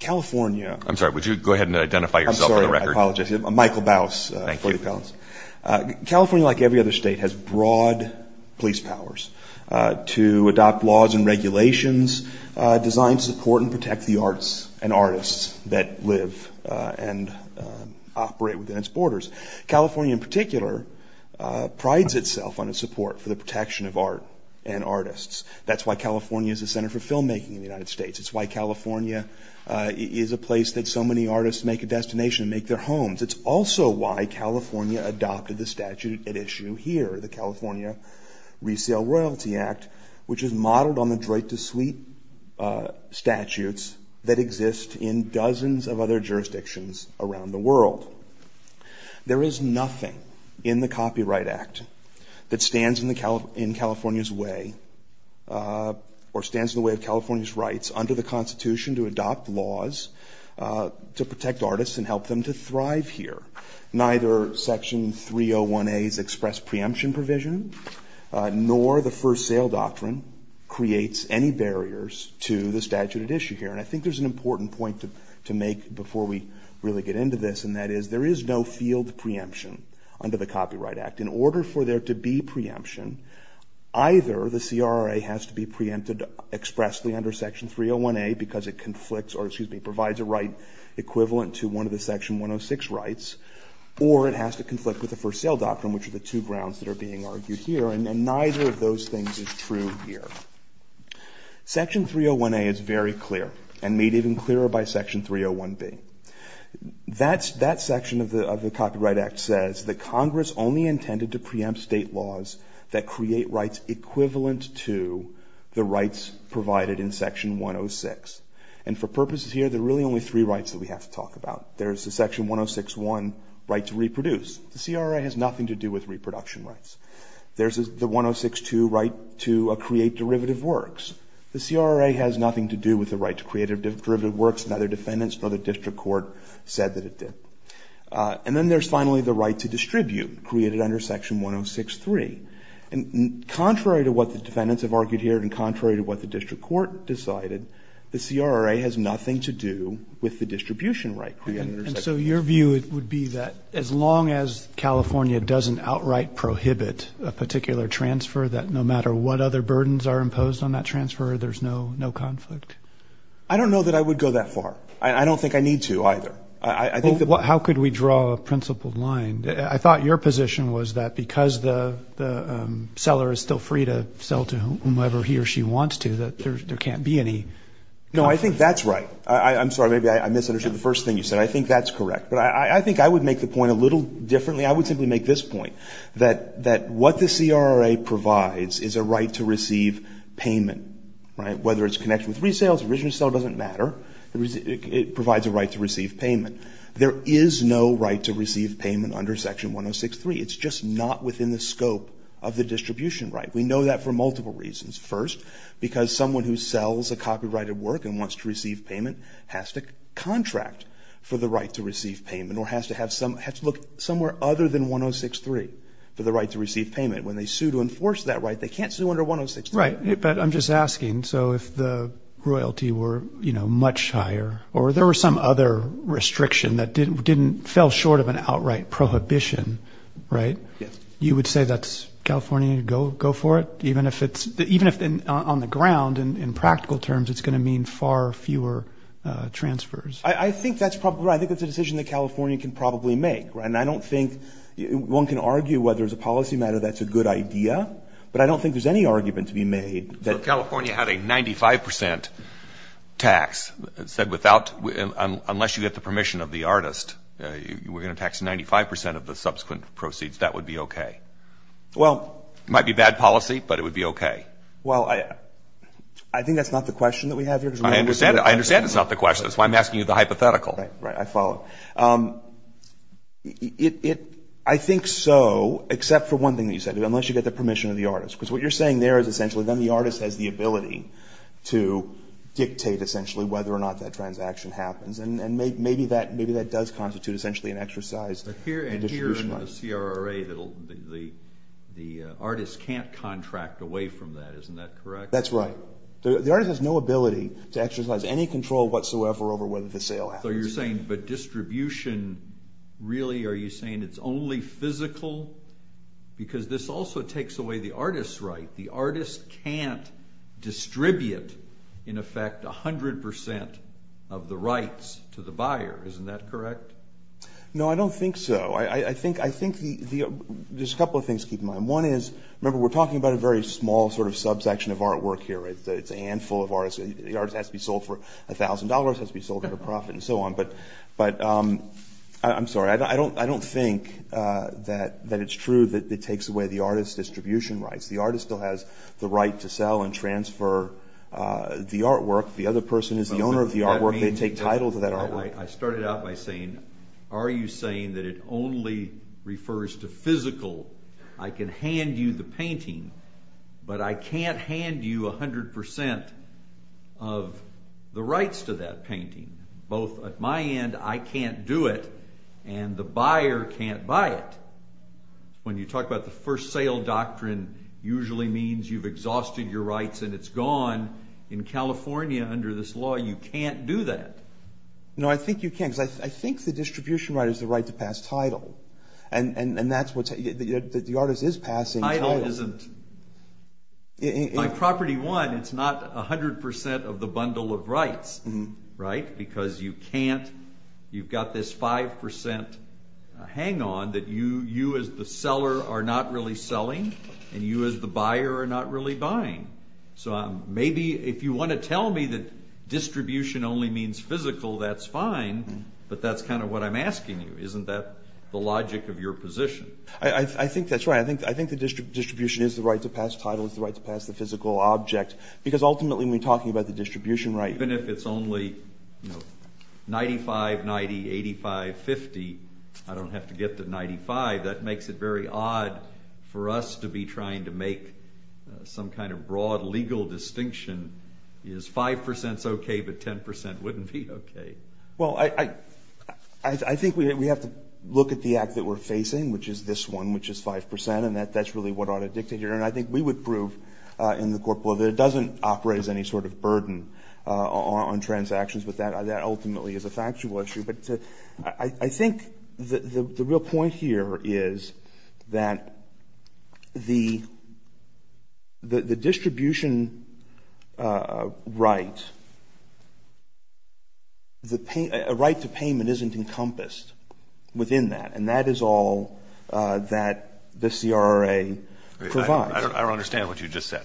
California, like every other state, has broad police powers to adopt laws and regulations, design, support, and protect the arts and artists that live and operate within its borders. California, in particular, prides itself on its support for the protection of art and artists. That's why California is a center for filmmaking in the United States. It's why California is a place that so many artists make a destination, make their homes. It's also why California adopted the statute at issue here, the California Resale Royalty Act, which is modeled on the droit de suite statutes that exist in dozens of other jurisdictions around the world. There is nothing in the Copyright Act that stands in California's way or stands in the way of California's rights under the Constitution to adopt laws to protect artists and help them to thrive here. Neither Section 301A's express preemption provision nor the First Sale Doctrine creates any barriers to the statute at issue here. And I think there's an important point to make before we really get into this, and that is there is no field preemption under the Copyright Act. In order for there to be preemption, either the CRRA has to be preempted expressly under Section 301A because it provides a right equivalent to one of the Section 106 rights, or it has to conflict with the First Sale Doctrine, which are the two grounds that are being argued here, and neither of those things is true here. Section 301A is very clear and made even clearer by Section 301B. That section of the Copyright Act says that Congress only intended to preempt state laws that create rights equivalent to the rights provided in Section 106. And for purposes here, there are really only three rights that we have to talk about. There is the Section 106.1 right to reproduce. The CRRA has nothing to do with reproduction rights. There is the 106.2 right to create derivative works. The CRRA has nothing to do with the right to create derivative works. Neither defendants nor the district court said that it did. And then there is finally the right to distribute created under Section 106.3. And contrary to what the defendants have argued here and contrary to what the district court decided, the CRRA has nothing to do with the distribution right created under Section 106. My view would be that as long as California doesn't outright prohibit a particular transfer, that no matter what other burdens are imposed on that transfer, there is no conflict. I don't know that I would go that far. I don't think I need to either. How could we draw a principled line? I thought your position was that because the seller is still free to sell to whomever he or she wants to, that there can't be any. No, I think that's right. I'm sorry. Maybe I misunderstood the first thing you said. I think that's correct. But I think I would make the point a little differently. I would simply make this point, that what the CRRA provides is a right to receive payment, right? Whether it's connected with resales, original sale doesn't matter. It provides a right to receive payment. There is no right to receive payment under Section 106.3. It's just not within the scope of the distribution right. We know that for multiple reasons. First, because someone who sells a copyrighted work and wants to receive payment has to contract for the right to receive payment or has to look somewhere other than 106.3 for the right to receive payment. When they sue to enforce that right, they can't sue under 106.3. Right, but I'm just asking. So if the royalty were, you know, much higher or there were some other restriction that fell short of an outright prohibition, right? Yes. You would say that's California, go for it? Even if on the ground, in practical terms, it's going to mean far fewer transfers? I think that's probably right. I think that's a decision that California can probably make, right? And I don't think one can argue whether as a policy matter that's a good idea. But I don't think there's any argument to be made. So California had a 95 percent tax that said unless you get the permission of the artist, we're going to tax 95 percent of the subsequent proceeds. That would be okay. Well. It might be bad policy, but it would be okay. Well, I think that's not the question that we have here. I understand. I understand it's not the question. That's why I'm asking you the hypothetical. Right, right. I follow. I think so, except for one thing that you said, unless you get the permission of the artist. Because what you're saying there is essentially then the artist has the ability to dictate essentially whether or not that transaction happens. And maybe that does constitute essentially an exercise in distribution rights. Here in the CRA, the artist can't contract away from that. Isn't that correct? That's right. The artist has no ability to exercise any control whatsoever over whether the sale happens. So you're saying, but distribution really, are you saying it's only physical? Because this also takes away the artist's right. The artist can't distribute, in effect, 100% of the rights to the buyer. Isn't that correct? No, I don't think so. I think there's a couple of things to keep in mind. One is, remember, we're talking about a very small sort of subsection of artwork here. It's a handful of artists. The artist has to be sold for $1,000, has to be sold for a profit, and so on. But I'm sorry. I don't think that it's true that it takes away the artist's distribution rights. The artist still has the right to sell and transfer the artwork. The other person is the owner of the artwork. They take title to that artwork. I started out by saying, are you saying that it only refers to physical? I can hand you the painting, but I can't hand you 100% of the rights to that painting. Both at my end, I can't do it, and the buyer can't buy it. When you talk about the first sale doctrine, usually means you've exhausted your rights and it's gone. In California, under this law, you can't do that. No, I think you can, because I think the distribution right is the right to pass title. And that's what's—the artist is passing title. Title isn't— By property one, it's not 100% of the bundle of rights, right? Because you can't—you've got this 5% hang-on that you as the seller are not really selling, and you as the buyer are not really buying. So maybe if you want to tell me that distribution only means physical, that's fine, but that's kind of what I'm asking you. Isn't that the logic of your position? I think that's right. I think the distribution is the right to pass title. It's the right to pass the physical object. Because ultimately, when we're talking about the distribution right— 95-90, 85-50, I don't have to get to 95. That makes it very odd for us to be trying to make some kind of broad legal distinction. Is 5% okay, but 10% wouldn't be okay? Well, I think we have to look at the act that we're facing, which is this one, which is 5%, and that's really what ought to dictate here. And I think we would prove in the court that it doesn't operate as any sort of burden on transactions, but that ultimately is a factual issue. But I think the real point here is that the distribution right, a right to payment isn't encompassed within that, and that is all that the CRA provides. I don't understand what you just said.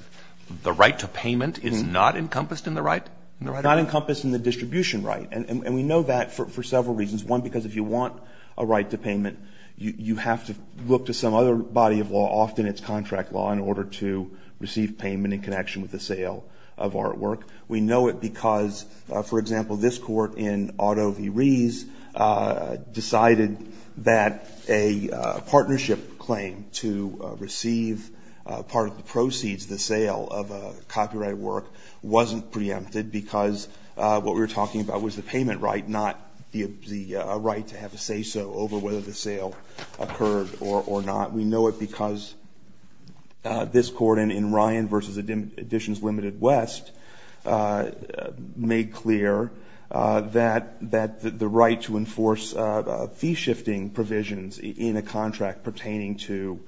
The right to payment is not encompassed in the right? Not encompassed in the distribution right. And we know that for several reasons. One, because if you want a right to payment, you have to look to some other body of law, often it's contract law, in order to receive payment in connection with the sale of artwork. We know it because, for example, this Court in Otto v. Rees decided that a partnership claim to receive part of the proceeds of the sale of a copyright work wasn't preempted because what we were talking about was the payment right, not the right to have a say-so over whether the sale occurred or not. We know it because this Court in Ryan v. Additions Ltd. West made clear that the right to enforce fee-shifting provisions in a contract pertaining to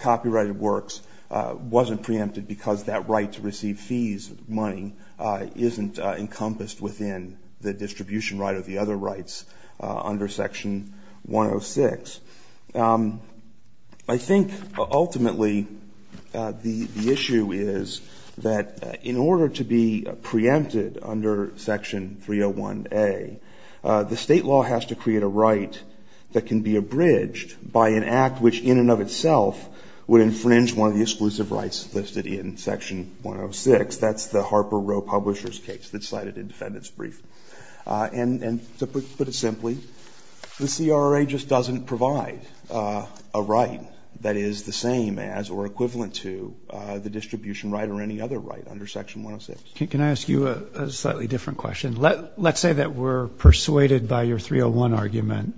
copyrighted works wasn't preempted because that right to receive fees, money, isn't encompassed within the distribution right or the other rights under Section 106. I think ultimately the issue is that in order to be preempted under Section 301A, the State law has to create a right that can be abridged by an act which in and of itself would infringe one of the exclusive rights listed in Section 106. That's the Harper-Roe Publishers case that's cited in Defendant's brief. And to put it simply, the CRA just doesn't provide a right that is the same as or equivalent to the distribution right or any other right under Section 106. Roberts. Can I ask you a slightly different question? Let's say that we're persuaded by your 301 argument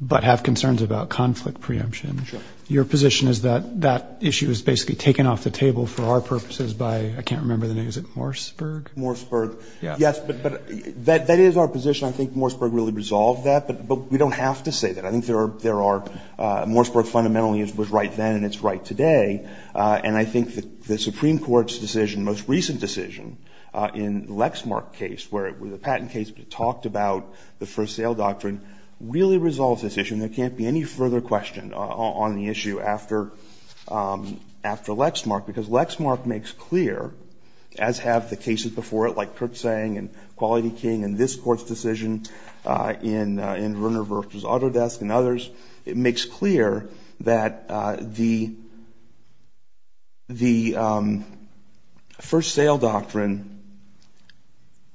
but have concerns about conflict preemption. Your position is that that issue is basically taken off the table for our purposes by, I can't remember the name, is it Morseburg? Morseburg. Yes, but that is our position. I think Morseburg really resolved that. But we don't have to say that. I think there are – Morseburg fundamentally was right then and it's right today. And I think the Supreme Court's decision, the most recent decision in the Lexmark case, where the patent case talked about the first sale doctrine, really resolves this issue and there can't be any further question on the issue after Lexmark, because Lexmark makes clear, as have the cases before it like Kurtzsang and Quality King and this Court's decision in Verner v. Autodesk and others, it makes clear that the first sale doctrine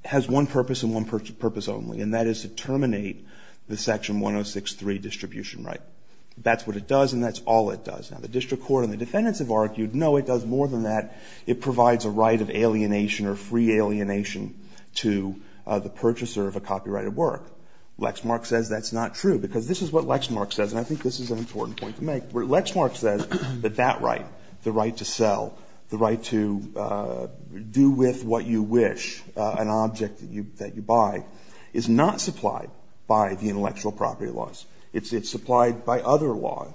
has one purpose and one purpose only, and that is to terminate the Section 106.3 distribution right. That's what it does and that's all it does. Now, the district court and the defendants have argued, no, it does more than that. It provides a right of alienation or free alienation to the purchaser of a copyrighted work. Lexmark says that's not true, because this is what Lexmark says, and I think this is an important point to make. Lexmark says that that right, the right to sell, the right to do with what you wish, an object that you buy, is not supplied by the intellectual property laws. It's supplied by other law.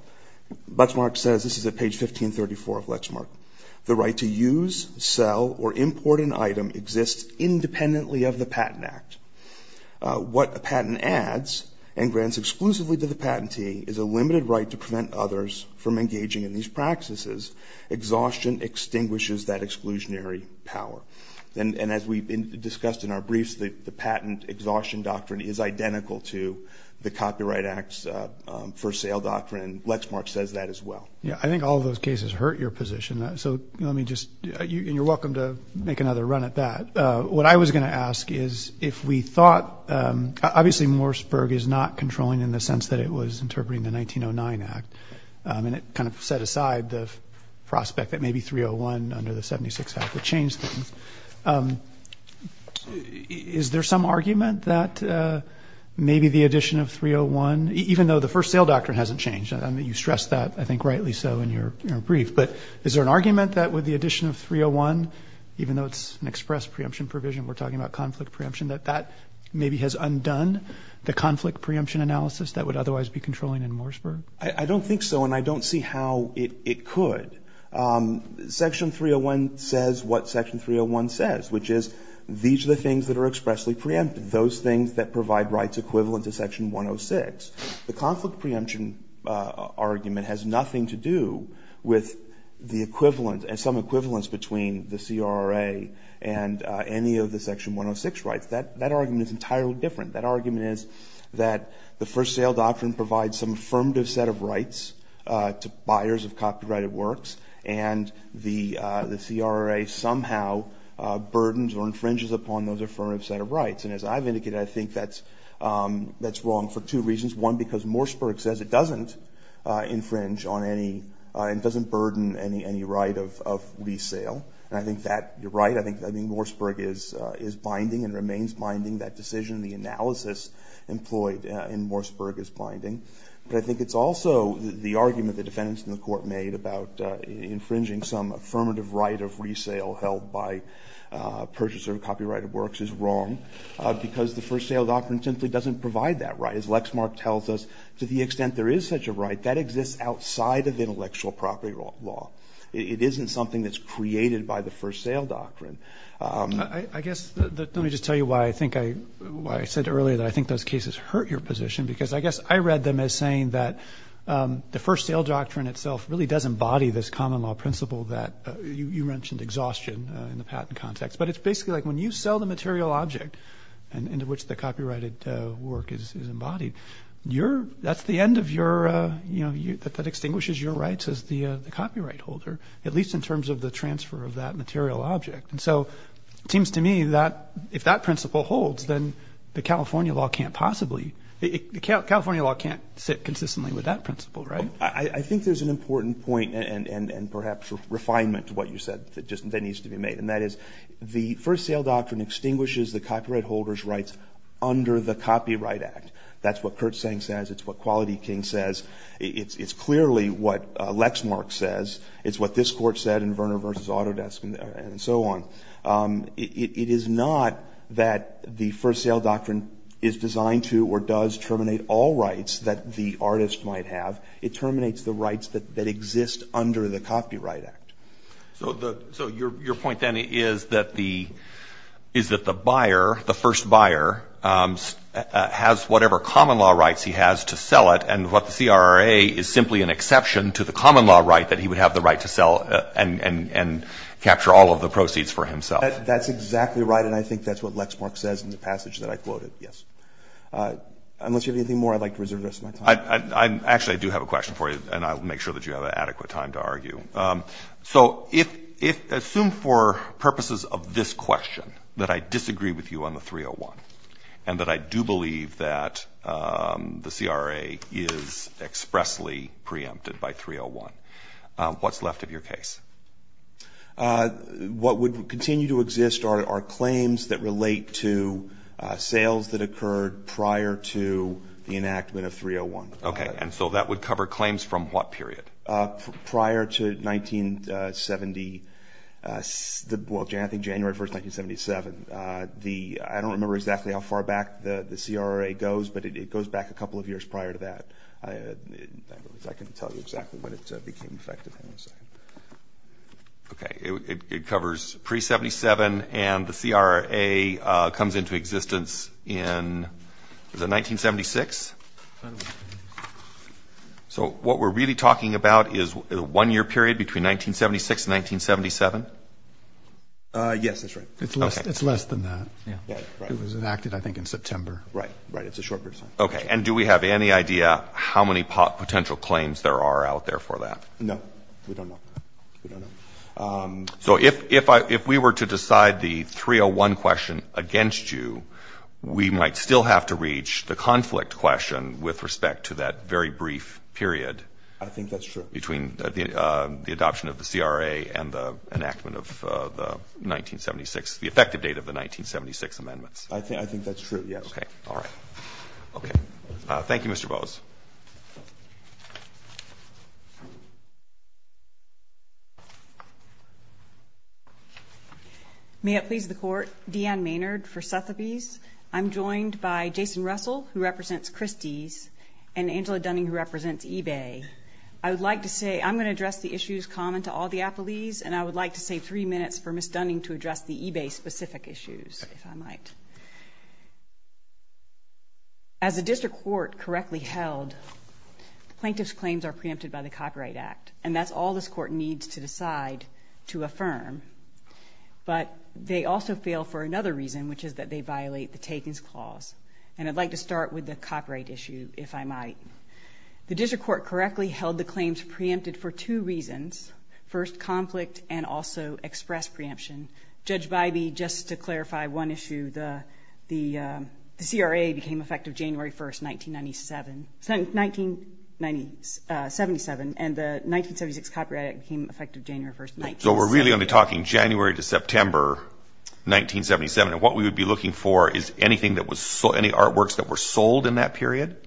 Lexmark says, this is at page 1534 of Lexmark, the right to use, sell, or import an item exists independently of the Patent Act. What a patent adds and grants exclusively to the patentee is a limited right to prevent others from engaging in these practices. Exhaustion extinguishes that exclusionary power. And as we've discussed in our briefs, the patent exhaustion doctrine is identical to the Copyright Act's for sale doctrine, and Lexmark says that as well. Yeah, I think all those cases hurt your position. So let me just, and you're welcome to make another run at that. What I was going to ask is, if we thought, obviously Morseburg is not controlling in the sense that it was interpreting the 1909 Act, and it kind of set aside the prospect that maybe 301 under the 76 Act would change things. Is there some argument that maybe the addition of 301, even though the first sale doctrine hasn't changed, I mean, you stress that, I think, rightly so in your brief. But is there an argument that with the addition of 301, even though it's an express preemption provision, we're talking about conflict preemption, that that maybe has undone the conflict preemption analysis that would otherwise be controlling in Morseburg? I don't think so, and I don't see how it could. Section 301 says what section 301 says, which is these are the things that are expressly preempted, those things that provide rights equivalent to section 106. The conflict preemption argument has nothing to do with the equivalent, some equivalence between the CRA and any of the section 106 rights. That argument is entirely different. That argument is that the first sale doctrine provides some affirmative set of works, and the CRA somehow burdens or infringes upon those affirmative set of rights. And as I've indicated, I think that's wrong for two reasons. One, because Morseburg says it doesn't infringe on any, it doesn't burden any right of resale. And I think that, you're right, I think Morseburg is binding and remains binding. That decision, the analysis employed in Morseburg is binding. But I think it's also the argument the defendants in the court made about infringing some affirmative right of resale held by a purchaser of copyrighted works is wrong because the first sale doctrine simply doesn't provide that right. As Lexmark tells us, to the extent there is such a right, that exists outside of intellectual property law. It isn't something that's created by the first sale doctrine. I guess, let me just tell you why I think I, why I said earlier that I think those cases hurt your position because I guess I read them as saying that the first sale doctrine itself really does embody this common law principle that you mentioned, exhaustion in the patent context. But it's basically like when you sell the material object into which the copyrighted work is embodied, you're, that's the end of your, you know, that extinguishes your rights as the copyright holder, at least in terms of the transfer of that material object. And so it seems to me that if that principle holds, then the California law can't possibly, the California law can't sit consistently with that principle, right? I think there's an important point and perhaps refinement to what you said that needs to be made. And that is the first sale doctrine extinguishes the copyright holder's rights under the Copyright Act. That's what Kurt Seng says. It's what Quality King says. It's clearly what Lexmark says. It's what this Court said in Verner v. Autodesk and so on. It is not that the first sale doctrine is designed to or does terminate all rights that the artist might have. It terminates the rights that exist under the Copyright Act. So the, so your point then is that the, is that the buyer, the first buyer, has whatever common law rights he has to sell it. And what the CRA is simply an exception to the common law right that he would have the right to sell and capture all of the proceeds for himself. That's exactly right. And I think that's what Lexmark says in the passage that I quoted, yes. Unless you have anything more, I'd like to reserve the rest of my time. Actually, I do have a question for you, and I'll make sure that you have adequate time to argue. So if, assume for purposes of this question that I disagree with you on the 301 and that I do believe that the CRA is expressly preempted by 301, what's left of your case? What would continue to exist are claims that relate to sales that occurred prior to the enactment of 301. Okay. And so that would cover claims from what period? Prior to 1970, well, I think January 1, 1977. I don't remember exactly how far back the CRA goes, but it goes back a couple of years prior to that. If I can tell you exactly when it became effective, hang on a second. Okay. It covers pre-'77, and the CRA comes into existence in, is it 1976? So what we're really talking about is the one-year period between 1976 and 1977? Yes, that's right. It's less than that. It was enacted, I think, in September. Right. Right. It's a short period of time. Okay. And do we have any idea how many potential claims there are out there for that? No. We don't know. We don't know. So if we were to decide the 301 question against you, we might still have to reach the conflict question with respect to that very brief period. I think that's true. Between the adoption of the CRA and the enactment of the 1976, the effective date of the 1976 amendments. I think that's true, yes. Okay. All right. Okay. Thank you, Mr. Bose. May it please the Court. Deanne Maynard for Sotheby's. I'm joined by Jason Russell, who represents Christie's, and Angela Dunning, who represents eBay. I would like to say I'm going to address the issues common to all the appellees, and I would like to save three minutes for Ms. Dunning to address the eBay-specific issues, if I might. As a district court correctly held, the plaintiff's claims are preempted by the Copyright Act, and that's all this Court needs to decide to affirm. But they also fail for another reason, which is that they violate the Takings Clause. And I'd like to start with the copyright issue, if I might. The district court correctly held the claims preempted for two reasons. First, conflict, and also express preemption. Judge Bybee, just to clarify one issue, the CRA became effective January 1st, 1977, and the 1976 Copyright Act became effective January 1st, 1976. So we're really only talking January to September 1977, and what we would be looking for is anything that was sold, any artworks that were sold in that period?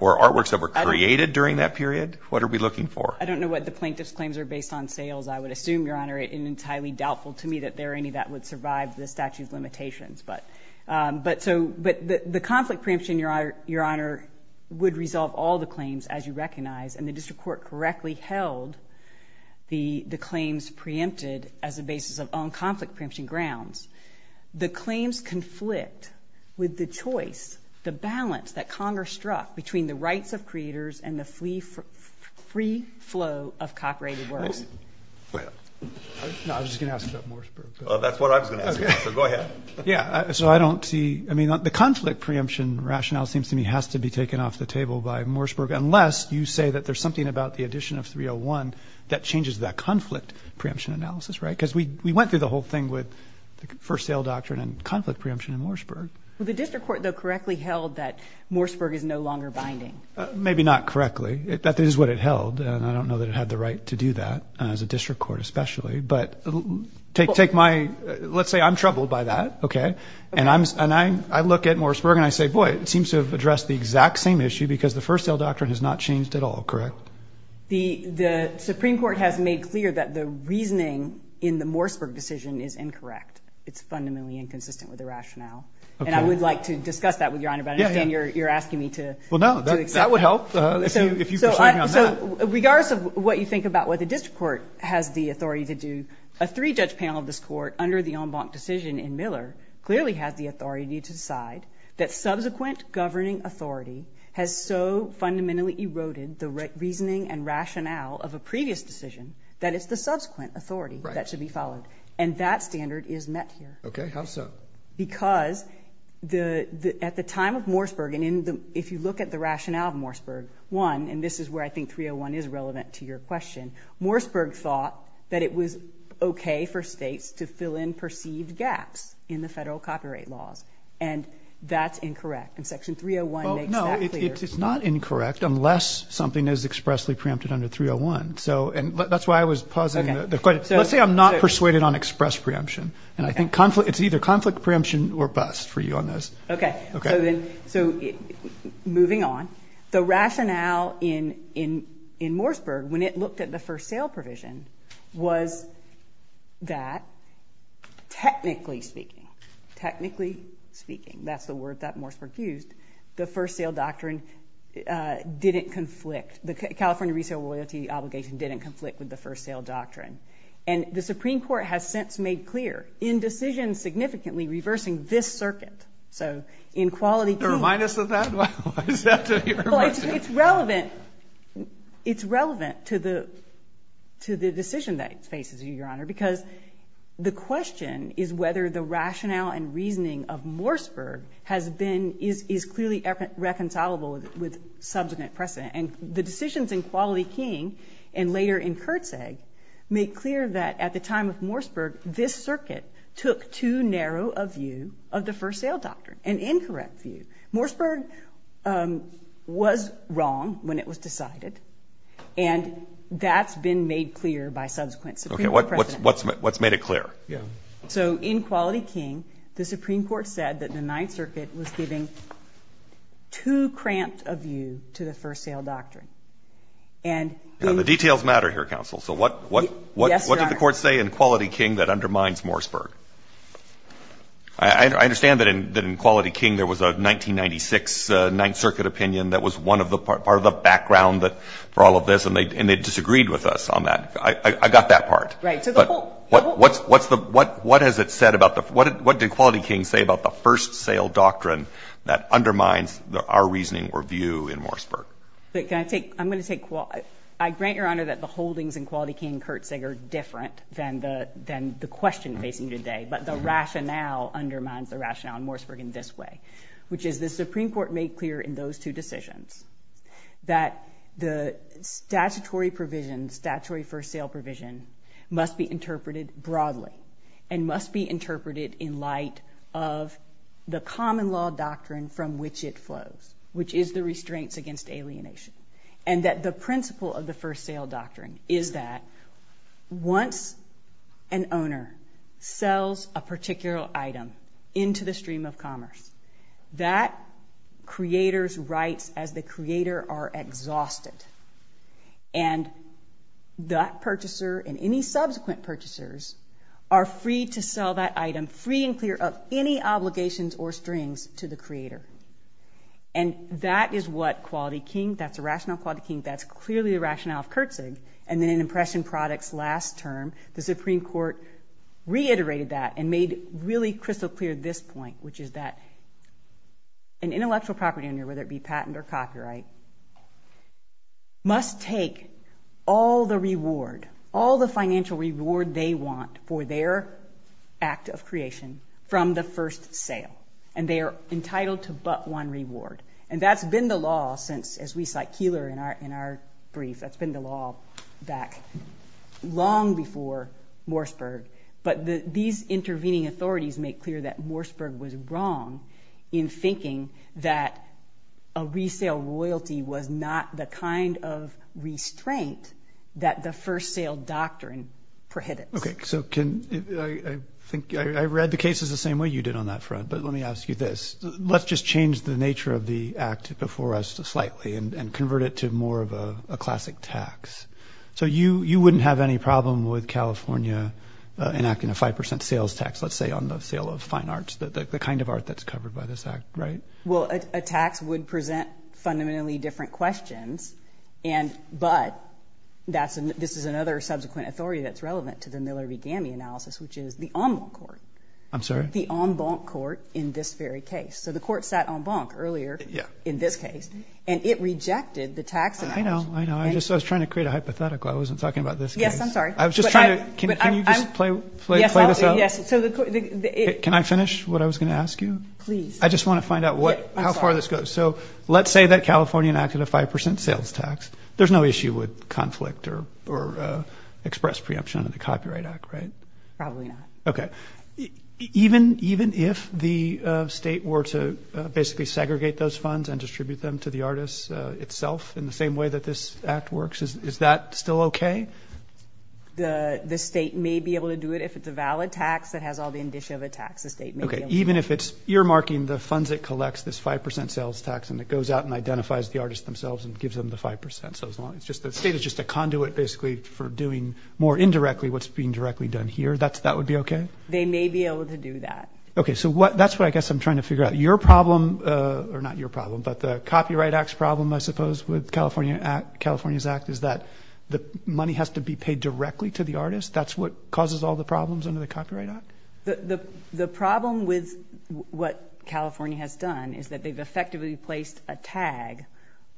Or artworks that were created during that period? What are we looking for? I don't know what the plaintiff's claims are based on sales. I would assume, Your Honor, it is entirely doubtful to me that there are any that would survive the statute of limitations. But the conflict preemption, Your Honor, would resolve all the claims, as you recognize, and the district court correctly held the claims preempted as a basis of own conflict preemption grounds. The claims conflict with the choice, the balance that Congress struck between the rights of creators and the free flow of copyrighted works. Go ahead. No, I was just going to ask about Mooresburg. That's what I was going to ask about, so go ahead. Yeah, so I don't see, I mean, the conflict preemption rationale seems to me has to be taken off the table by Mooresburg, unless you say that there's something about the addition of 301 that changes that conflict preemption analysis, right? Because we went through the whole thing with the first sale doctrine and conflict preemption in Mooresburg. Well, the district court, though, correctly held that Mooresburg is no longer binding. Maybe not correctly. That is what it held, and I don't know that it had the right to do that, as a district court especially. But take my, let's say I'm troubled by that, okay? And I look at Mooresburg and I say, boy, it seems to have addressed the exact same issue because the first sale doctrine has not changed at all, correct? The Supreme Court has made clear that the reasoning in the Mooresburg decision is incorrect. It's fundamentally inconsistent with the rationale, and I would like to discuss that with Your Honor, but I understand you're asking me to accept that. Well, no, that would help if you persuade me on that. So regardless of what you think about what the district court has the authority to do, a three-judge panel of this court under the en banc decision in Miller clearly has the authority to decide that subsequent governing authority has so fundamentally eroded the reasoning and rationale of a previous decision that it's the subsequent authority that should be followed. And that standard is met here. Okay, how so? Because at the time of Mooresburg, and if you look at the rationale of Mooresburg, one, and this is where I think 301 is relevant to your question, Mooresburg thought that it was okay for states to fill in perceived gaps in the federal copyright laws, and that's incorrect, and Section 301 makes that clear. Well, no, it's not incorrect unless something is expressly preempted under 301, and that's why I was pausing the question. Let's say I'm not persuaded on express preemption, and I think it's either conflict preemption or bust for you on this. Okay, so moving on. The rationale in Mooresburg, when it looked at the first sale provision, was that technically speaking, technically speaking, that's the word that Mooresburg used, the first sale doctrine didn't conflict. The California resale loyalty obligation didn't conflict with the first sale doctrine, and the Supreme Court has since made clear in decision significantly reversing this circuit. So in quality terms. Is there a minus of that? Why does that have to be your question? Well, it's relevant to the decision that faces you, Your Honor, because the question is whether the rationale and reasoning of Mooresburg has been, is clearly reconcilable with subsequent precedent, and the decisions in Quality King and later in Kertzeg make clear that at the time of Mooresburg, this circuit took too narrow a view of the first sale doctrine, an incorrect view. Mooresburg was wrong when it was decided, and that's been made clear by subsequent precedent. What's made it clear? So in Quality King, the Supreme Court said that the Ninth Circuit was giving too cramped a view to the first sale doctrine. The details matter here, counsel. Yes, Your Honor. So what did the Court say in Quality King that undermines Mooresburg? I understand that in Quality King there was a 1996 Ninth Circuit opinion that was part of the background for all of this, and they disagreed with us on that. I got that part. Right. What has it said about the – what did Quality King say about the first sale doctrine that undermines our reasoning or view in Mooresburg? But can I take – I'm going to take – I grant Your Honor that the holdings in Quality King and Kertzeg are different than the question facing you today, but the rationale undermines the rationale in Mooresburg in this way, which is the Supreme Court made clear in those two decisions that the statutory provision, statutory first sale provision, must be interpreted broadly and must be interpreted in light of the common law doctrine from which it flows, which is the restraints against alienation. And that the principle of the first sale doctrine is that once an owner sells a particular item into the stream of commerce, that creator's rights as the creator are exhausted, and that purchaser and any subsequent purchasers are free to sell that item free and clear of any obligations or strings to the creator. And that is what Quality King – that's the rationale of Quality King. That's clearly the rationale of Kertzeg. And then in Impression Products' last term, the Supreme Court reiterated that and made really crystal clear this point, which is that an intellectual property owner, whether it be patent or copyright, must take all the reward, all the financial reward they want for their act of creation from the first sale, and they are entitled to but one reward. And that's been the law since, as we cite Keillor in our brief, that's been the law back long before Mooresburg. But these intervening authorities make clear that Mooresburg was wrong in thinking that a resale royalty was not the kind of restraint that the first sale doctrine prohibited. Okay, so can – I think I read the cases the same way you did on that front, but let me ask you this. Let's just change the nature of the act before us slightly and convert it to more of a classic tax. So you wouldn't have any problem with California enacting a 5% sales tax, let's say, on the sale of fine arts, the kind of art that's covered by this act, right? Well, a tax would present fundamentally different questions, but this is another subsequent authority that's relevant to the Miller v. Gamme analysis, which is the en banc court. I'm sorry? The en banc court in this very case. So the court sat en banc earlier in this case, and it rejected the tax analogy. I know, I know. I was just trying to create a hypothetical. I wasn't talking about this case. Yes, I'm sorry. I was just trying to – can you just play this out? Yes. Can I finish what I was going to ask you? Please. I just want to find out how far this goes. So let's say that California enacted a 5% sales tax. There's no issue with conflict or express preemption under the Copyright Act, right? Probably not. Okay. Even if the state were to basically segregate those funds and distribute them to the artists itself in the same way that this act works, is that still okay? The state may be able to do it. If it's a valid tax that has all the indicia of a tax, the state may be able to do it. Okay. Even if it's earmarking the funds it collects, this 5% sales tax, and it goes out and identifies the artists themselves and gives them the 5%, so as long as the state is just a conduit basically for doing more indirectly what's being directly done here, that would be okay? They may be able to do that. Okay. So that's what I guess I'm trying to figure out. Your problem – or not your problem, but the Copyright Act's problem, I suppose, with California's act is that the money has to be paid directly to the artist. That's what causes all the problems under the Copyright Act? The problem with what California has done is that they've effectively placed a tag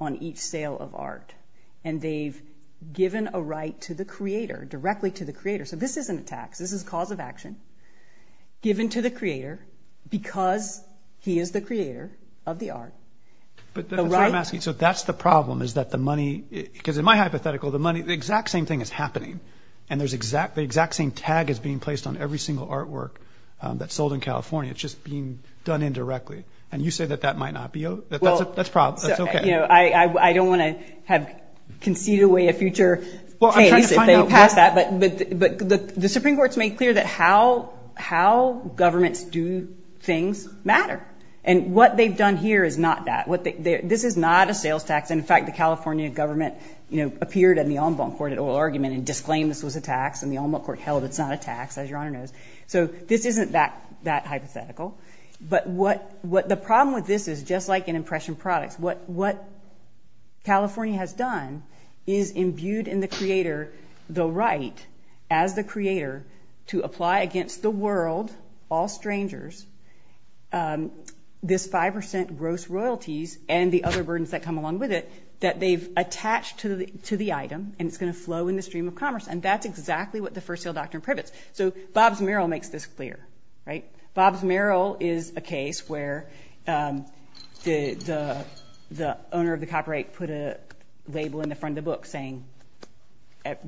on each sale of art, and they've given a right to the creator, directly to the creator. So this isn't a tax. This is cause of action given to the creator because he is the creator of the art. But that's what I'm asking. So that's the problem is that the money – because in my hypothetical, the exact same thing is happening, and the exact same tag is being placed on every single artwork that's sold in California. It's just being done indirectly. And you say that that might not be – that's a problem. That's okay. I don't want to concede away a future case if they pass that, but the Supreme Court's made clear that how governments do things matter, and what they've done here is not that. This is not a sales tax. In fact, the California government appeared in the en banc court at oral argument and disclaimed this was a tax, and the en banc court held it's not a tax, as Your Honor knows. So this isn't that hypothetical. But the problem with this is, just like in impression products, what California has done is imbued in the creator the right as the creator to apply against the world, all strangers, this 5% gross royalties and the other burdens that come along with it that they've attached to the item, and it's going to flow in the stream of commerce. And that's exactly what the first sale doctrine privets. So Bob's Merrill makes this clear. Bob's Merrill is a case where the owner of the copyright put a label in the front of the book saying,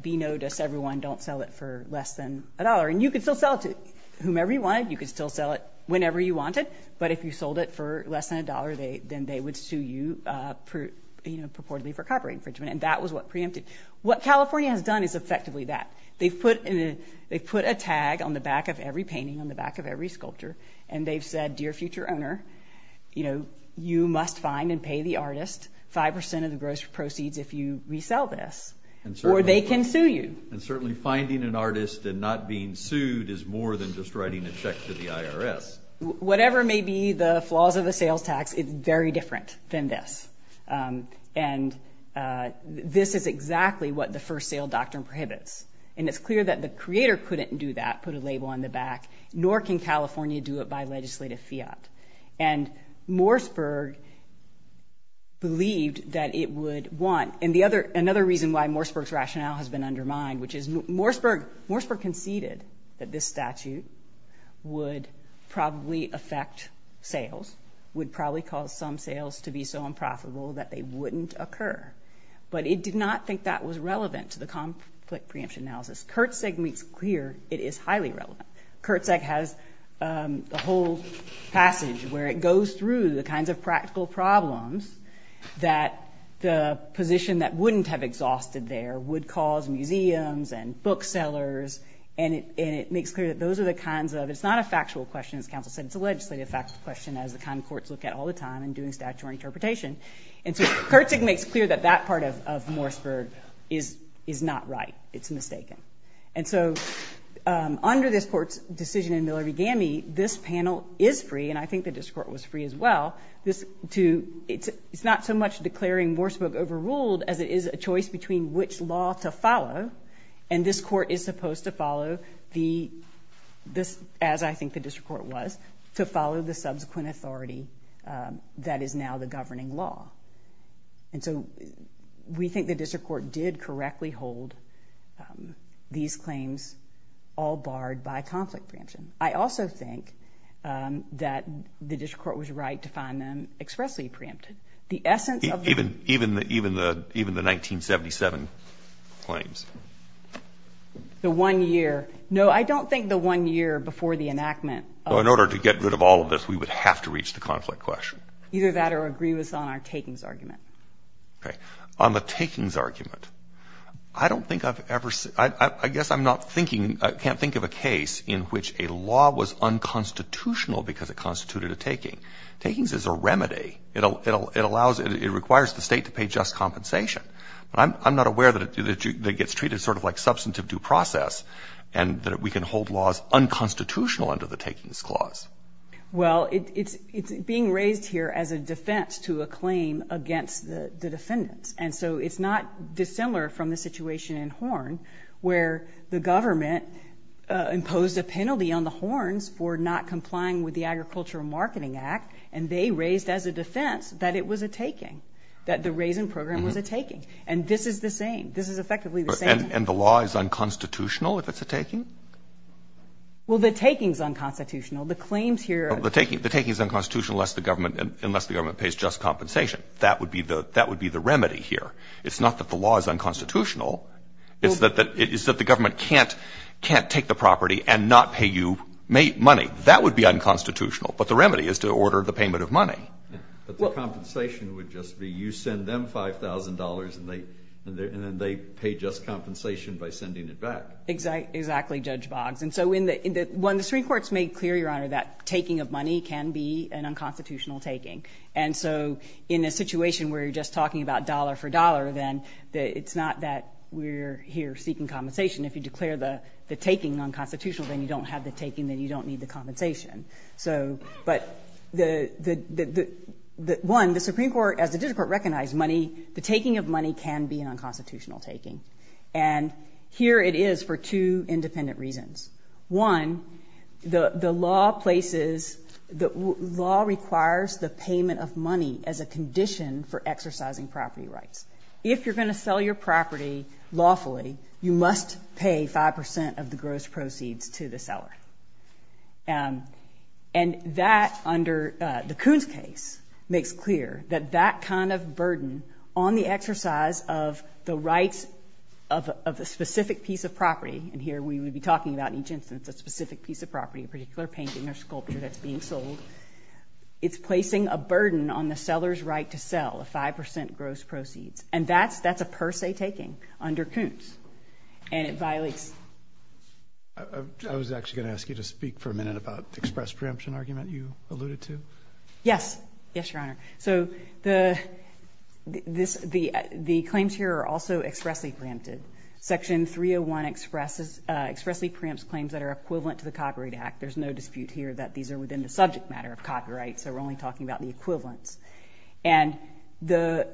be noticed, everyone, don't sell it for less than a dollar. And you could still sell it to whomever you wanted. You could still sell it whenever you wanted. But if you sold it for less than a dollar, then they would sue you purportedly for copyright infringement. And that was what preempted. What California has done is effectively that. They've put a tag on the back of every painting, on the back of every sculpture, and they've said, Dear Future Owner, you must find and pay the artist 5% of the gross proceeds if you resell this. Or they can sue you. And certainly finding an artist and not being sued is more than just writing a check to the IRS. Whatever may be the flaws of the sales tax, it's very different than this. And this is exactly what the first sale doctrine prohibits. And it's clear that the creator couldn't do that, put a label on the back, nor can California do it by legislative fiat. And Morseburg believed that it would want and another reason why Morseburg's rationale has been undermined, which is Morseburg conceded that this statute would probably affect sales, would probably cause some sales to be so unprofitable that they wouldn't occur. But it did not think that was relevant to the conflict preemption analysis. Kertzeg makes clear it is highly relevant. Kertzeg has a whole passage where it goes through the kinds of practical problems that the position that wouldn't have exhausted there would cause museums and booksellers. And it makes clear that those are the kinds of, it's not a factual question, as counsel said, it's a legislative question, as the kind of courts look at all the time in doing statutory interpretation. And so Kertzeg makes clear that that part of Morseburg is not right, it's mistaken. And so under this court's decision in Miller v. Gammey, this panel is free, and I think the district court was free as well. It's not so much declaring Morseburg overruled as it is a choice between which law to follow, and this court is supposed to follow, as I think the district court was, to follow the subsequent authority that is now the governing law. And so we think the district court did correctly hold these claims all barred by conflict preemption. I also think that the district court was right to find them expressly preempted. Even the 1977 claims? The one year. No, I don't think the one year before the enactment. In order to get rid of all of this, we would have to reach the conflict question. Either that or agree with us on our takings argument. Okay. On the takings argument, I don't think I've ever seen, I guess I'm not thinking, I can't think of a case in which a law was unconstitutional because it constituted a taking. Takings is a remedy. It allows, it requires the state to pay just compensation. I'm not aware that it gets treated sort of like substantive due process and that we can hold laws unconstitutional under the takings clause. Well, it's being raised here as a defense to a claim against the defendants. And so it's not dissimilar from the situation in Horn where the government imposed a penalty on the Horns for not complying with the Agricultural Marketing Act, and they raised as a defense that it was a taking, that the raisin program was a taking. And this is the same. This is effectively the same. And the law is unconstitutional if it's a taking? Well, the taking is unconstitutional. The claims here are The taking is unconstitutional unless the government pays just compensation. That would be the remedy here. It's not that the law is unconstitutional. It's that the government can't take the property and not pay you money. That would be unconstitutional. But the remedy is to order the payment of money. But the compensation would just be you send them $5,000 and then they pay just compensation by sending it back. Exactly, Judge Boggs. And so when the Supreme Court has made clear, Your Honor, that taking of money can be an unconstitutional taking. And so in a situation where you're just talking about dollar for dollar, then it's not that we're here seeking compensation. If you declare the taking unconstitutional, then you don't have the taking, then you don't need the compensation. But, one, the Supreme Court, as the district court recognized money, the taking of money can be an unconstitutional taking. And here it is for two independent reasons. One, the law places the law requires the payment of money as a condition for exercising property rights. If you're going to sell your property lawfully, you must pay 5% of the gross proceeds to the seller. And that, under the Coons case, makes clear that that kind of burden on the exercise of the rights of a specific piece of property, and here we would be talking about in each instance a specific piece of property, a particular painting or sculpture that's being sold, it's placing a burden on the seller's right to sell a 5% gross proceeds. And that's a per se taking under Coons. And it violates. I was actually going to ask you to speak for a minute about the express preemption argument you alluded to. Yes. Yes, Your Honor. So the claims here are also expressly preempted. Section 301 expressly preempts claims that are equivalent to the Copyright Act. There's no dispute here that these are within the subject matter of copyright, so we're only talking about the equivalents. And the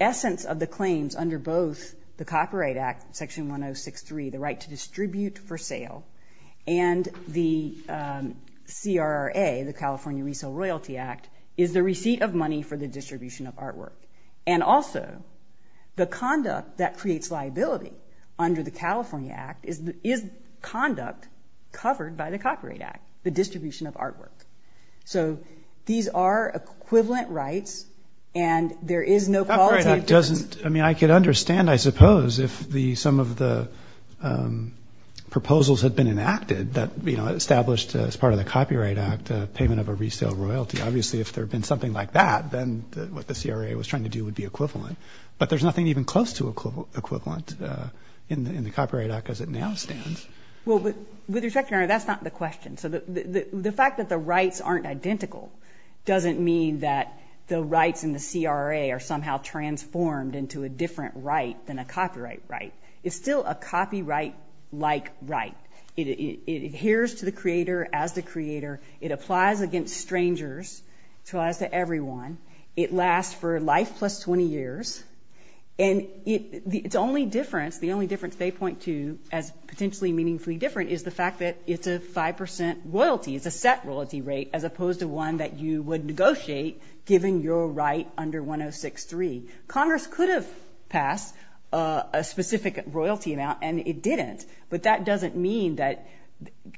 essence of the claims under both the Copyright Act, Section 1063, the right to distribute for sale, and the CRRA, the California Resale Royalty Act, is the receipt of money for the distribution of artwork. And also, the conduct that creates liability under the California Act is conduct covered by the Copyright Act, the distribution of artwork. So these are equivalent rights, and there is no qualitative difference. I mean, I could understand, I suppose, if some of the proposals had been enacted that, you know, established as part of the Copyright Act payment of a resale royalty. Obviously, if there had been something like that, then what the CRRA was trying to do would be equivalent. But there's nothing even close to equivalent in the Copyright Act as it now stands. Well, with respect, Your Honor, that's not the question. So the fact that the rights aren't identical doesn't mean that the rights in the CRRA are somehow transformed into a different right than a copyright right. It's still a copyright-like right. It adheres to the creator as the creator. It applies against strangers. It applies to everyone. It lasts for life plus 20 years. And its only difference, the only difference they point to as potentially meaningfully different, is the fact that it's a 5 percent royalty, it's a set royalty rate, as opposed to one that you would negotiate given your right under 106.3. Congress could have passed a specific royalty amount, and it didn't. But that doesn't mean that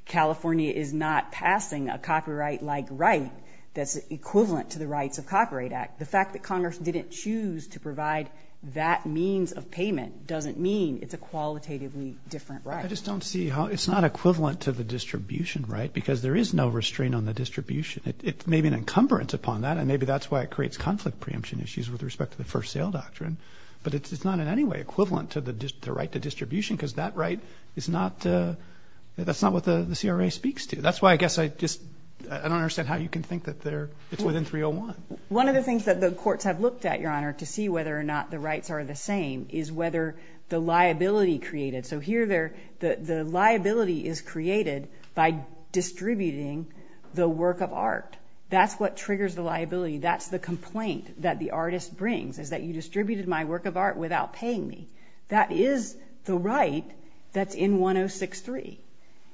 California is not passing a copyright-like right that's equivalent to the rights of Copyright Act. The fact that Congress didn't choose to provide that means of payment doesn't mean it's a qualitatively different right. I just don't see how it's not equivalent to the distribution right because there is no restraint on the distribution. It may be an encumbrance upon that, and maybe that's why it creates conflict preemption issues with respect to the first sale doctrine. But it's not in any way equivalent to the right to distribution because that right is not what the CRRA speaks to. That's why I guess I just don't understand how you can think that it's within 301. One of the things that the courts have looked at, Your Honor, to see whether or not the rights are the same, is whether the liability created. So here the liability is created by distributing the work of art. That's what triggers the liability. That's the complaint that the artist brings is that you distributed my work of art without paying me. That is the right that's in 106.3,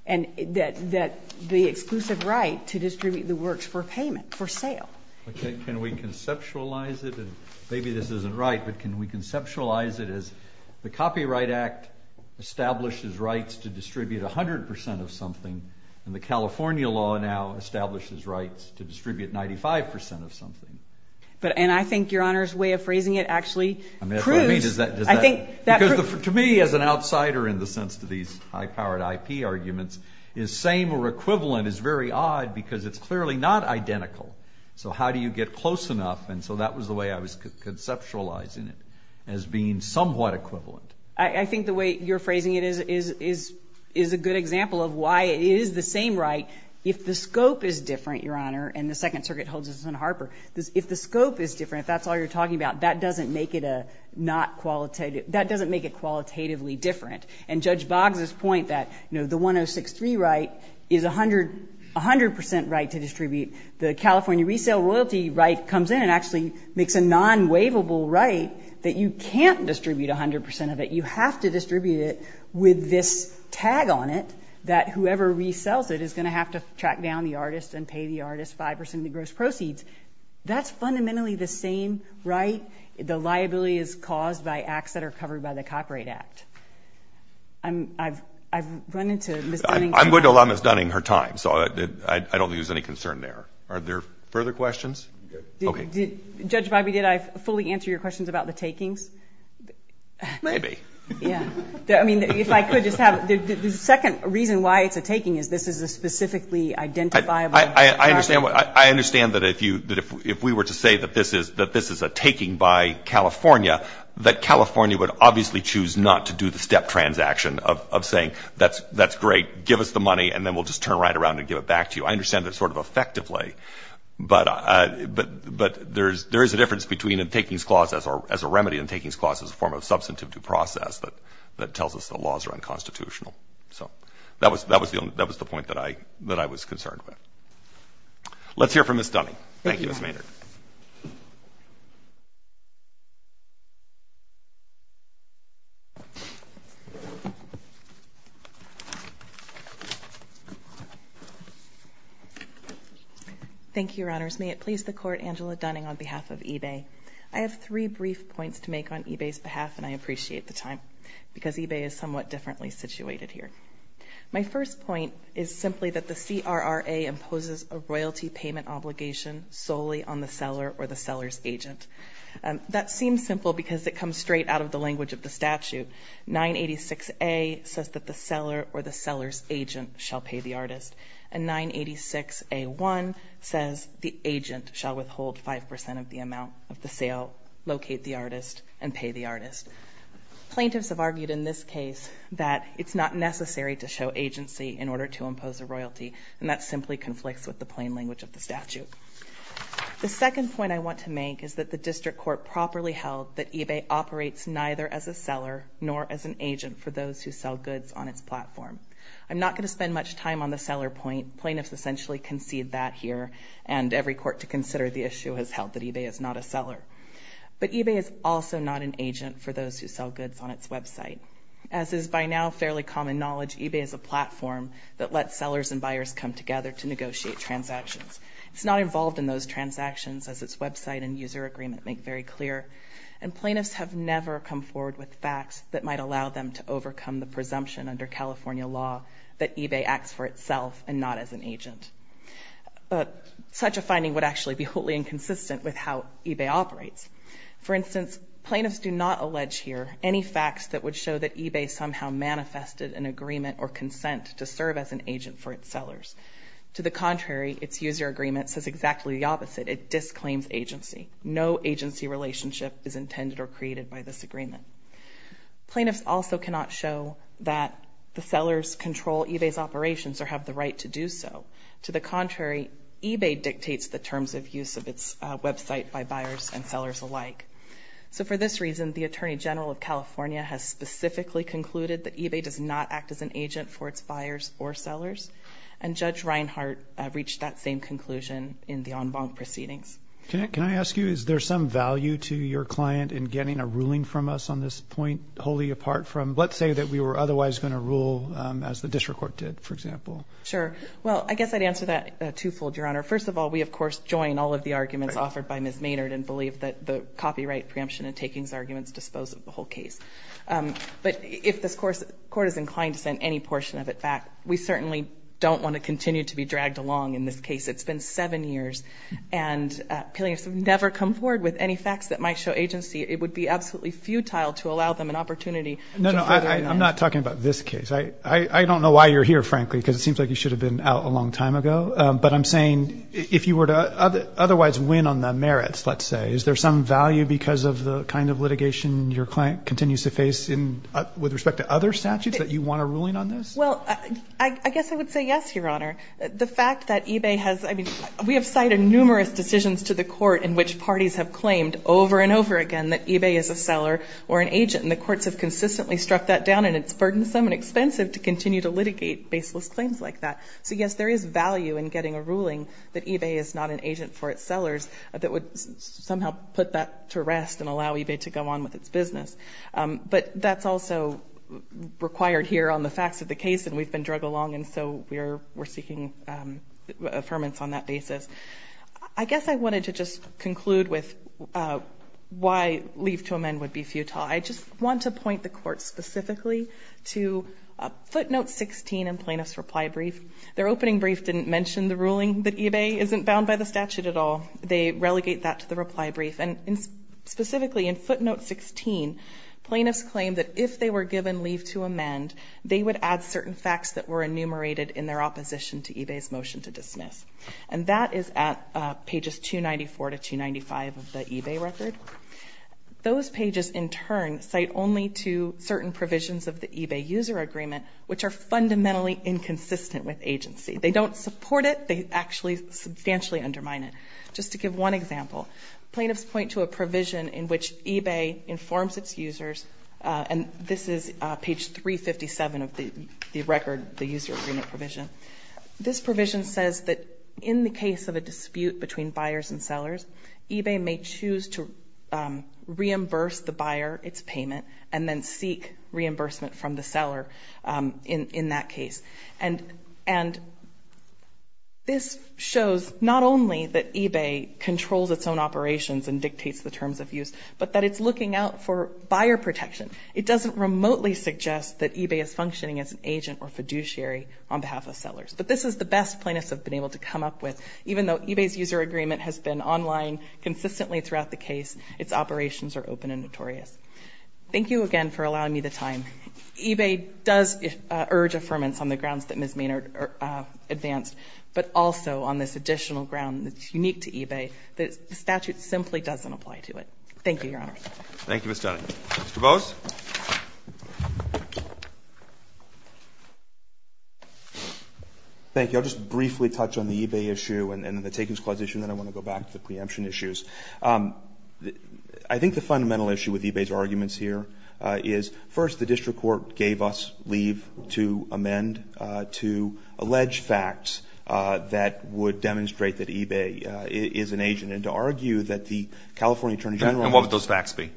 and that the exclusive right to distribute the works for payment, for sale. Can we conceptualize it? Maybe this isn't right, but can we conceptualize it as the Copyright Act establishes rights to distribute 100% of something, and the California law now establishes rights to distribute 95% of something. And I think Your Honor's way of phrasing it actually proves, I think that proves. Because to me as an outsider in the sense to these high-powered IP arguments, is same or equivalent is very odd because it's clearly not identical. So how do you get close enough? And so that was the way I was conceptualizing it, as being somewhat equivalent. I think the way you're phrasing it is a good example of why it is the same right. If the scope is different, Your Honor, and the Second Circuit holds this in Harper, if the scope is different, if that's all you're talking about, that doesn't make it a not qualitative, that doesn't make it qualitatively different. And Judge Boggs's point that, you know, the 1063 right is 100% right to distribute. The California resale royalty right comes in and actually makes a non-waivable right that you can't distribute 100% of it. You have to distribute it with this tag on it that whoever resells it is going to have to track down the artist and pay the artist 5% of the gross proceeds. That's fundamentally the same right. The liability is caused by acts that are covered by the Copyright Act. I've run into Ms. Dunning. I'm going to allow Ms. Dunning her time, so I don't think there's any concern there. Are there further questions? Judge Bobby, did I fully answer your questions about the takings? Maybe. Yeah. I mean, if I could just have, the second reason why it's a taking is this is a specifically identifiable property. I understand that if we were to say that this is a taking by California, that California would obviously choose not to do the step transaction of saying, that's great, give us the money, and then we'll just turn right around and give it back to you. I understand that sort of effectively, but there is a difference between a takings clause as a remedy and a takings clause as a form of substantive due process that tells us the laws are unconstitutional. That was the point that I was concerned with. Let's hear from Ms. Dunning. Thank you, Your Honor. Thank you, Ms. Maynard. Thank you, Your Honors. May it please the Court, Angela Dunning on behalf of eBay. I have three brief points to make on eBay's behalf, and I appreciate the time, because eBay is somewhat differently situated here. My first point is simply that the CRRA imposes a royalty payment obligation solely on the seller or the seller's agent. That seems simple because it comes straight out of the language of the statute. 986A says that the seller or the seller's agent shall pay the artist, and 986A1 says the agent shall withhold 5% of the amount of the sale, locate the artist, and pay the artist. Plaintiffs have argued in this case that it's not necessary to show agency in order to impose a royalty, and that simply conflicts with the plain language of the statute. The second point I want to make is that the district court properly held that eBay operates neither as a seller nor as an agent for those who sell goods on its platform. I'm not going to spend much time on the seller point. Plaintiffs essentially concede that here, and every court to consider the issue has held that eBay is not a seller. But eBay is also not an agent for those who sell goods on its website. As is by now fairly common knowledge, eBay is a platform that lets sellers and buyers come together to negotiate transactions. It's not involved in those transactions, as its website and user agreement make very clear, and plaintiffs have never come forward with facts that might allow them to overcome the presumption under California law that eBay acts for itself and not as an agent. But such a finding would actually be wholly inconsistent with how eBay operates. For instance, plaintiffs do not allege here any facts that would show that eBay somehow manifested an agreement or consent to serve as an agent for its sellers. To the contrary, its user agreement says exactly the opposite. It disclaims agency. No agency relationship is intended or created by this agreement. Plaintiffs also cannot show that the sellers control eBay's operations or have the right to do so. To the contrary, eBay dictates the terms of use of its website by buyers and sellers alike. So for this reason, the Attorney General of California has specifically concluded that eBay does not act as an agent for its buyers or sellers, and Judge Reinhart reached that same conclusion in the en banc proceedings. Can I ask you, is there some value to your client in getting a ruling from us on this point wholly apart from, let's say that we were otherwise going to rule as the district court did, for example? Sure. Well, I guess I'd answer that twofold, Your Honor. First of all, we, of course, join all of the arguments offered by Ms. Maynard and believe that the copyright preemption and takings arguments dispose of the whole case. But if this court is inclined to send any portion of it back, we certainly don't want to continue to be dragged along in this case. It's been seven years, and plaintiffs have never come forward with any facts that might show agency. It would be absolutely futile to allow them an opportunity. No, no, I'm not talking about this case. I don't know why you're here, frankly, because it seems like you should have been out a long time ago. But I'm saying if you were to otherwise win on the merits, let's say, is there some value because of the kind of litigation your client continues to face with respect to other statutes that you want a ruling on this? Well, I guess I would say yes, Your Honor. The fact that eBay has – I mean, we have cited numerous decisions to the court in which parties have claimed over and over again that eBay is a seller or an agent, and the courts have consistently struck that down, and it's burdensome and expensive to continue to litigate baseless claims like that. So, yes, there is value in getting a ruling that eBay is not an agent for its sellers that would somehow put that to rest and allow eBay to go on with its business. But that's also required here on the facts of the case, and we've been dragged along, and so we're seeking affirmance on that basis. I guess I wanted to just conclude with why leave to amend would be futile. I just want to point the court specifically to footnote 16 in Plaintiff's reply brief. Their opening brief didn't mention the ruling that eBay isn't bound by the statute at all. They relegate that to the reply brief, and specifically in footnote 16, plaintiffs claim that if they were given leave to amend, they would add certain facts that were enumerated in their opposition to eBay's motion to dismiss, and that is at pages 294 to 295 of the eBay record. Those pages, in turn, cite only to certain provisions of the eBay user agreement, which are fundamentally inconsistent with agency. They don't support it. They actually substantially undermine it. Just to give one example, plaintiffs point to a provision in which eBay informs its users, and this is page 357 of the record, the user agreement provision. This provision says that in the case of a dispute between buyers and sellers, eBay may choose to reimburse the buyer its payment and then seek reimbursement from the seller in that case. And this shows not only that eBay controls its own operations and dictates the terms of use, but that it's looking out for buyer protection. It doesn't remotely suggest that eBay is functioning as an agent or fiduciary on behalf of sellers. But this is the best plaintiffs have been able to come up with, even though eBay's user agreement has been online consistently throughout the case, its operations are open and notorious. Thank you again for allowing me the time. eBay does urge affirmance on the grounds that Ms. Maynard advanced, but also on this additional ground that's unique to eBay, that the statute simply doesn't apply to it. Thank you, Your Honor. Roberts. Thank you, Ms. Dunning. Mr. Bose. Thank you. I'll just briefly touch on the eBay issue and the takings clause issue, and then I want to go back to the preemption issues. I think the fundamental issue with eBay's arguments here is, first, the district court gave us leave to amend, to allege facts that would demonstrate that eBay is an agent, and to argue that the California Attorney General... And what would those facts be?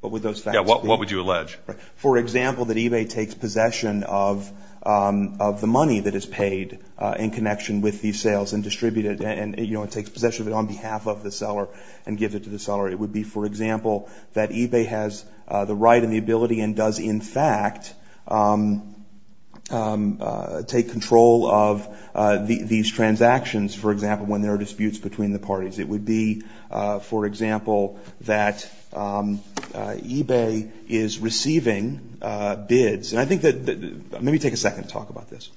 What would those facts be? Yeah, what would you allege? For example, that eBay takes possession of the money that is paid in connection with these sales and distributes it and takes possession of it on behalf of the seller and gives it to the seller. It would be, for example, that eBay has the right and the ability and does in fact take control of these transactions, for example, when there are disputes between the parties. It would be, for example, that eBay is receiving bids. And I think that... Let me take a second to talk about this.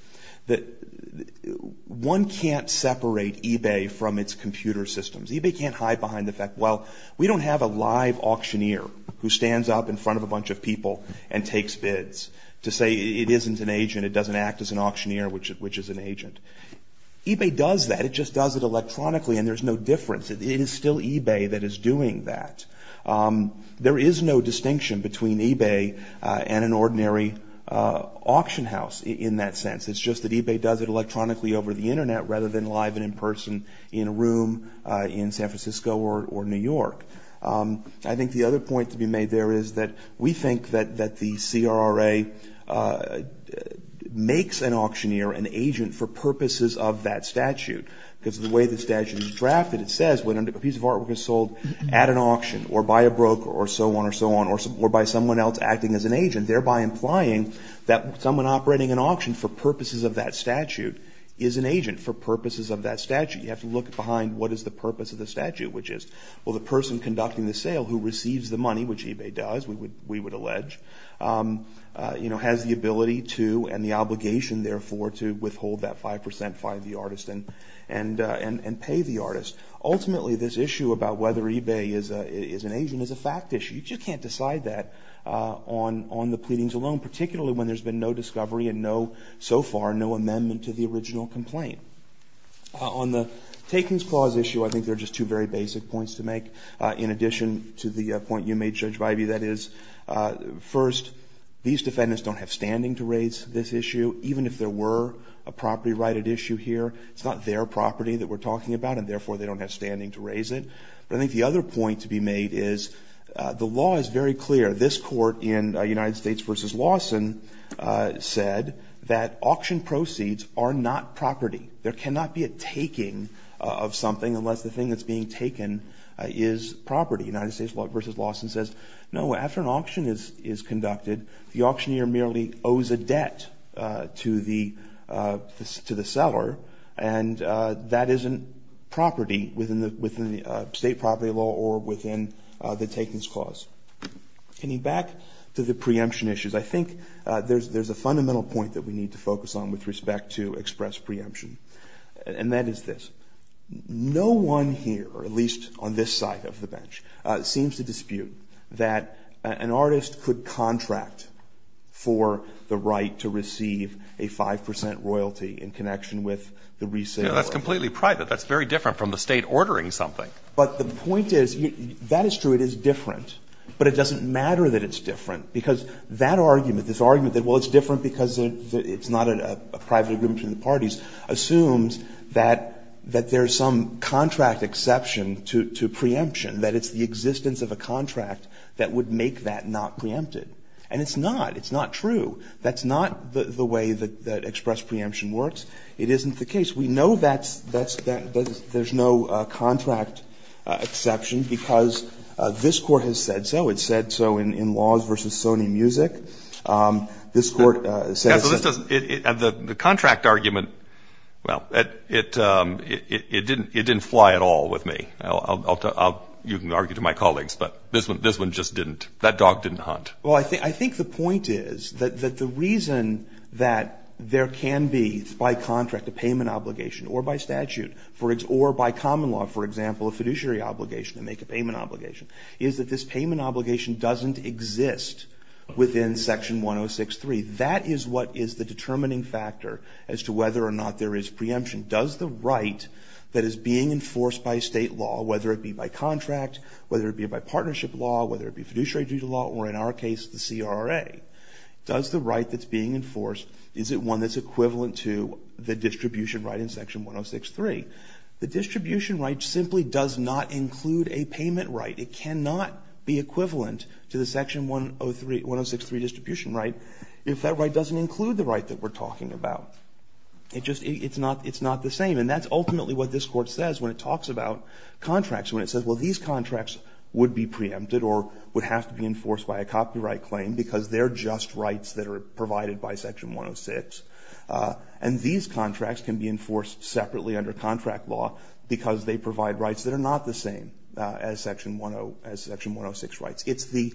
One can't separate eBay from its computer systems. eBay can't hide behind the fact, well, we don't have a live auctioneer who stands up in front of a bunch of people and takes bids to say it isn't an agent, it doesn't act as an auctioneer, which is an agent. eBay does that. It just does it electronically, and there's no difference. It is still eBay that is doing that. There is no distinction between eBay and an ordinary auction house in that sense. It's just that eBay does it electronically over the Internet rather than live and in person in a room in San Francisco or New York. I think the other point to be made there is that we think that the CRRA makes an auctioneer an agent for purposes of that statute because of the way the statute is drafted. It says when a piece of artwork is sold at an auction or by a broker or so on or so on or by someone else acting as an agent, thereby implying that someone operating an auction for purposes of that statute is an agent for purposes of that statute. You have to look behind what is the purpose of the statute, which is the person conducting the sale who receives the money, which eBay does, we would allege, has the ability to and the obligation, therefore, to withhold that 5% fine of the artist and pay the artist. Ultimately, this issue about whether eBay is an agent is a fact issue. You just can't decide that on the pleadings alone, particularly when there's been no discovery and no, so far, no amendment to the original complaint. On the takings clause issue, I think there are just two very basic points to make. In addition to the point you made, Judge Vibey, that is, first, these defendants don't have standing to raise this issue. Even if there were a property-righted issue here, it's not their property that we're talking about and, therefore, they don't have standing to raise it. I think the other point to be made is the law is very clear. This court in United States v. Lawson said that auction proceeds are not property. There cannot be a taking of something unless the thing that's being taken is property. United States v. Lawson says, no, after an auction is conducted, the auctioneer merely owes a debt to the seller and that isn't property within the state property law or within the takings clause. Getting back to the preemption issues, I think there's a fundamental point that we need to focus on with respect to express preemption, and that is this. No one here, or at least on this side of the bench, seems to dispute that an artist could contract for the right to receive a 5% royalty in connection with the resale. O'Connor. That's completely private. That's very different from the State ordering something. But the point is, that is true, it is different, but it doesn't matter that it's different because that argument, this argument that, well, it's different because it's not a private agreement between the parties, assumes that there's some contract exception to preemption, that it's the existence of a contract that would make that not preempted. And it's not. It's not true. That's not the way that express preemption works. It isn't the case. We know that there's no contract exception because this Court has said so. It's said so in Laws v. Sony Music. This Court says that. And the contract argument, well, it didn't fly at all with me. You can argue to my colleagues, but this one just didn't. That dog didn't hunt. Well, I think the point is that the reason that there can be, by contract, a payment obligation, or by statute, or by common law, for example, a fiduciary obligation to make a payment obligation, is that this payment obligation doesn't exist within Section 106.3. That is what is the determining factor as to whether or not there is preemption. Does the right that is being enforced by State law, whether it be by contract, whether it be by partnership law, whether it be fiduciary due to law, or in our case, the CRA, does the right that's being enforced, is it one that's equivalent to the distribution right in Section 106.3? The distribution right simply does not include a payment right. It cannot be equivalent to the Section 106.3 distribution right if that right doesn't include the right that we're talking about. It's not the same. And that's ultimately what this Court says when it talks about contracts, when it says, well, these contracts would be preempted or would have to be enforced by a copyright claim because they're just rights that are provided by Section 106. And these contracts can be enforced separately under contract law because they provide rights that are not the same as Section 106 rights. It's the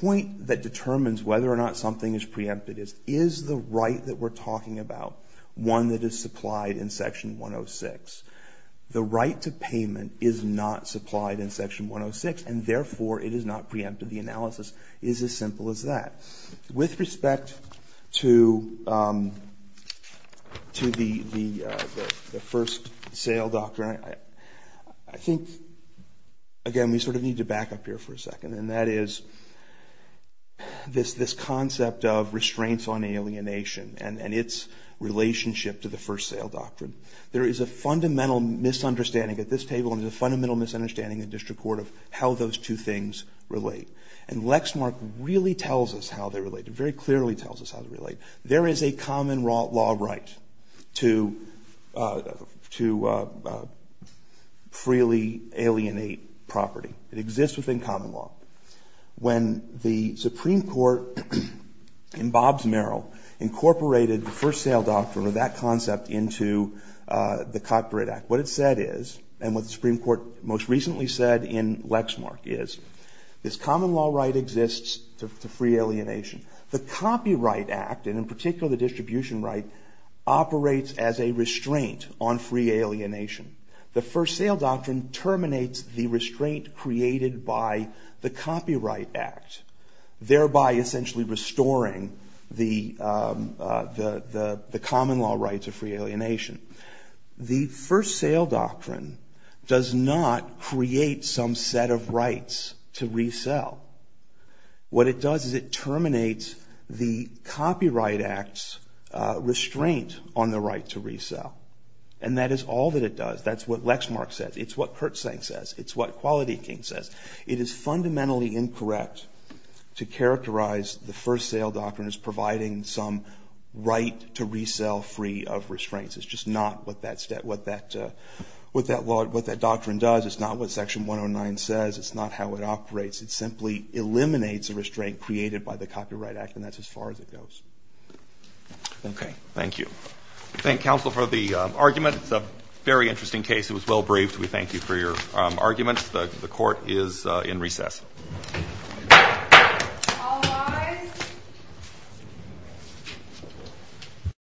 point that determines whether or not something is preempted is, is the right that we're talking about one that is supplied in Section 106? The right to payment is not supplied in Section 106, and therefore it is not preempted. The analysis is as simple as that. With respect to the First Sale Doctrine, I think, again, we sort of need to back up here for a second, and that is this concept of restraints on alienation and its relationship to the First Sale Doctrine. There is a fundamental misunderstanding at this table and there's a fundamental misunderstanding in district court of how those two things relate. And Lexmark really tells us how they relate. It very clearly tells us how they relate. There is a common law right to, to freely alienate property. It exists within common law. When the Supreme Court in Bobbs-Merrill incorporated the First Sale Doctrine or that concept into the Copyright Act, what it said is, and what the Supreme Court most recently said in Lexmark is, this common law right exists to free alienation. The Copyright Act, and in particular the distribution right, operates as a restraint on free alienation. The First Sale Doctrine terminates the restraint created by the Copyright Act, thereby essentially restoring the common law rights of free alienation. The First Sale Doctrine does not create some set of rights to resell. What it does is it terminates the Copyright Act's restraint on the right to resell. And that is all that it does. That's what Lexmark says. It's what Kurtzsang says. It's what Quality King says. It is fundamentally incorrect to characterize the First Sale Doctrine as providing some right to resell free of restraints. It's just not what that doctrine does. It's not what Section 109 says. It's not how it operates. It simply eliminates a restraint created by the Copyright Act, and that's as far as it goes. Roberts. Thank you. I thank counsel for the argument. It's a very interesting case. It was well braved. We thank you for your argument. The Court is in recess.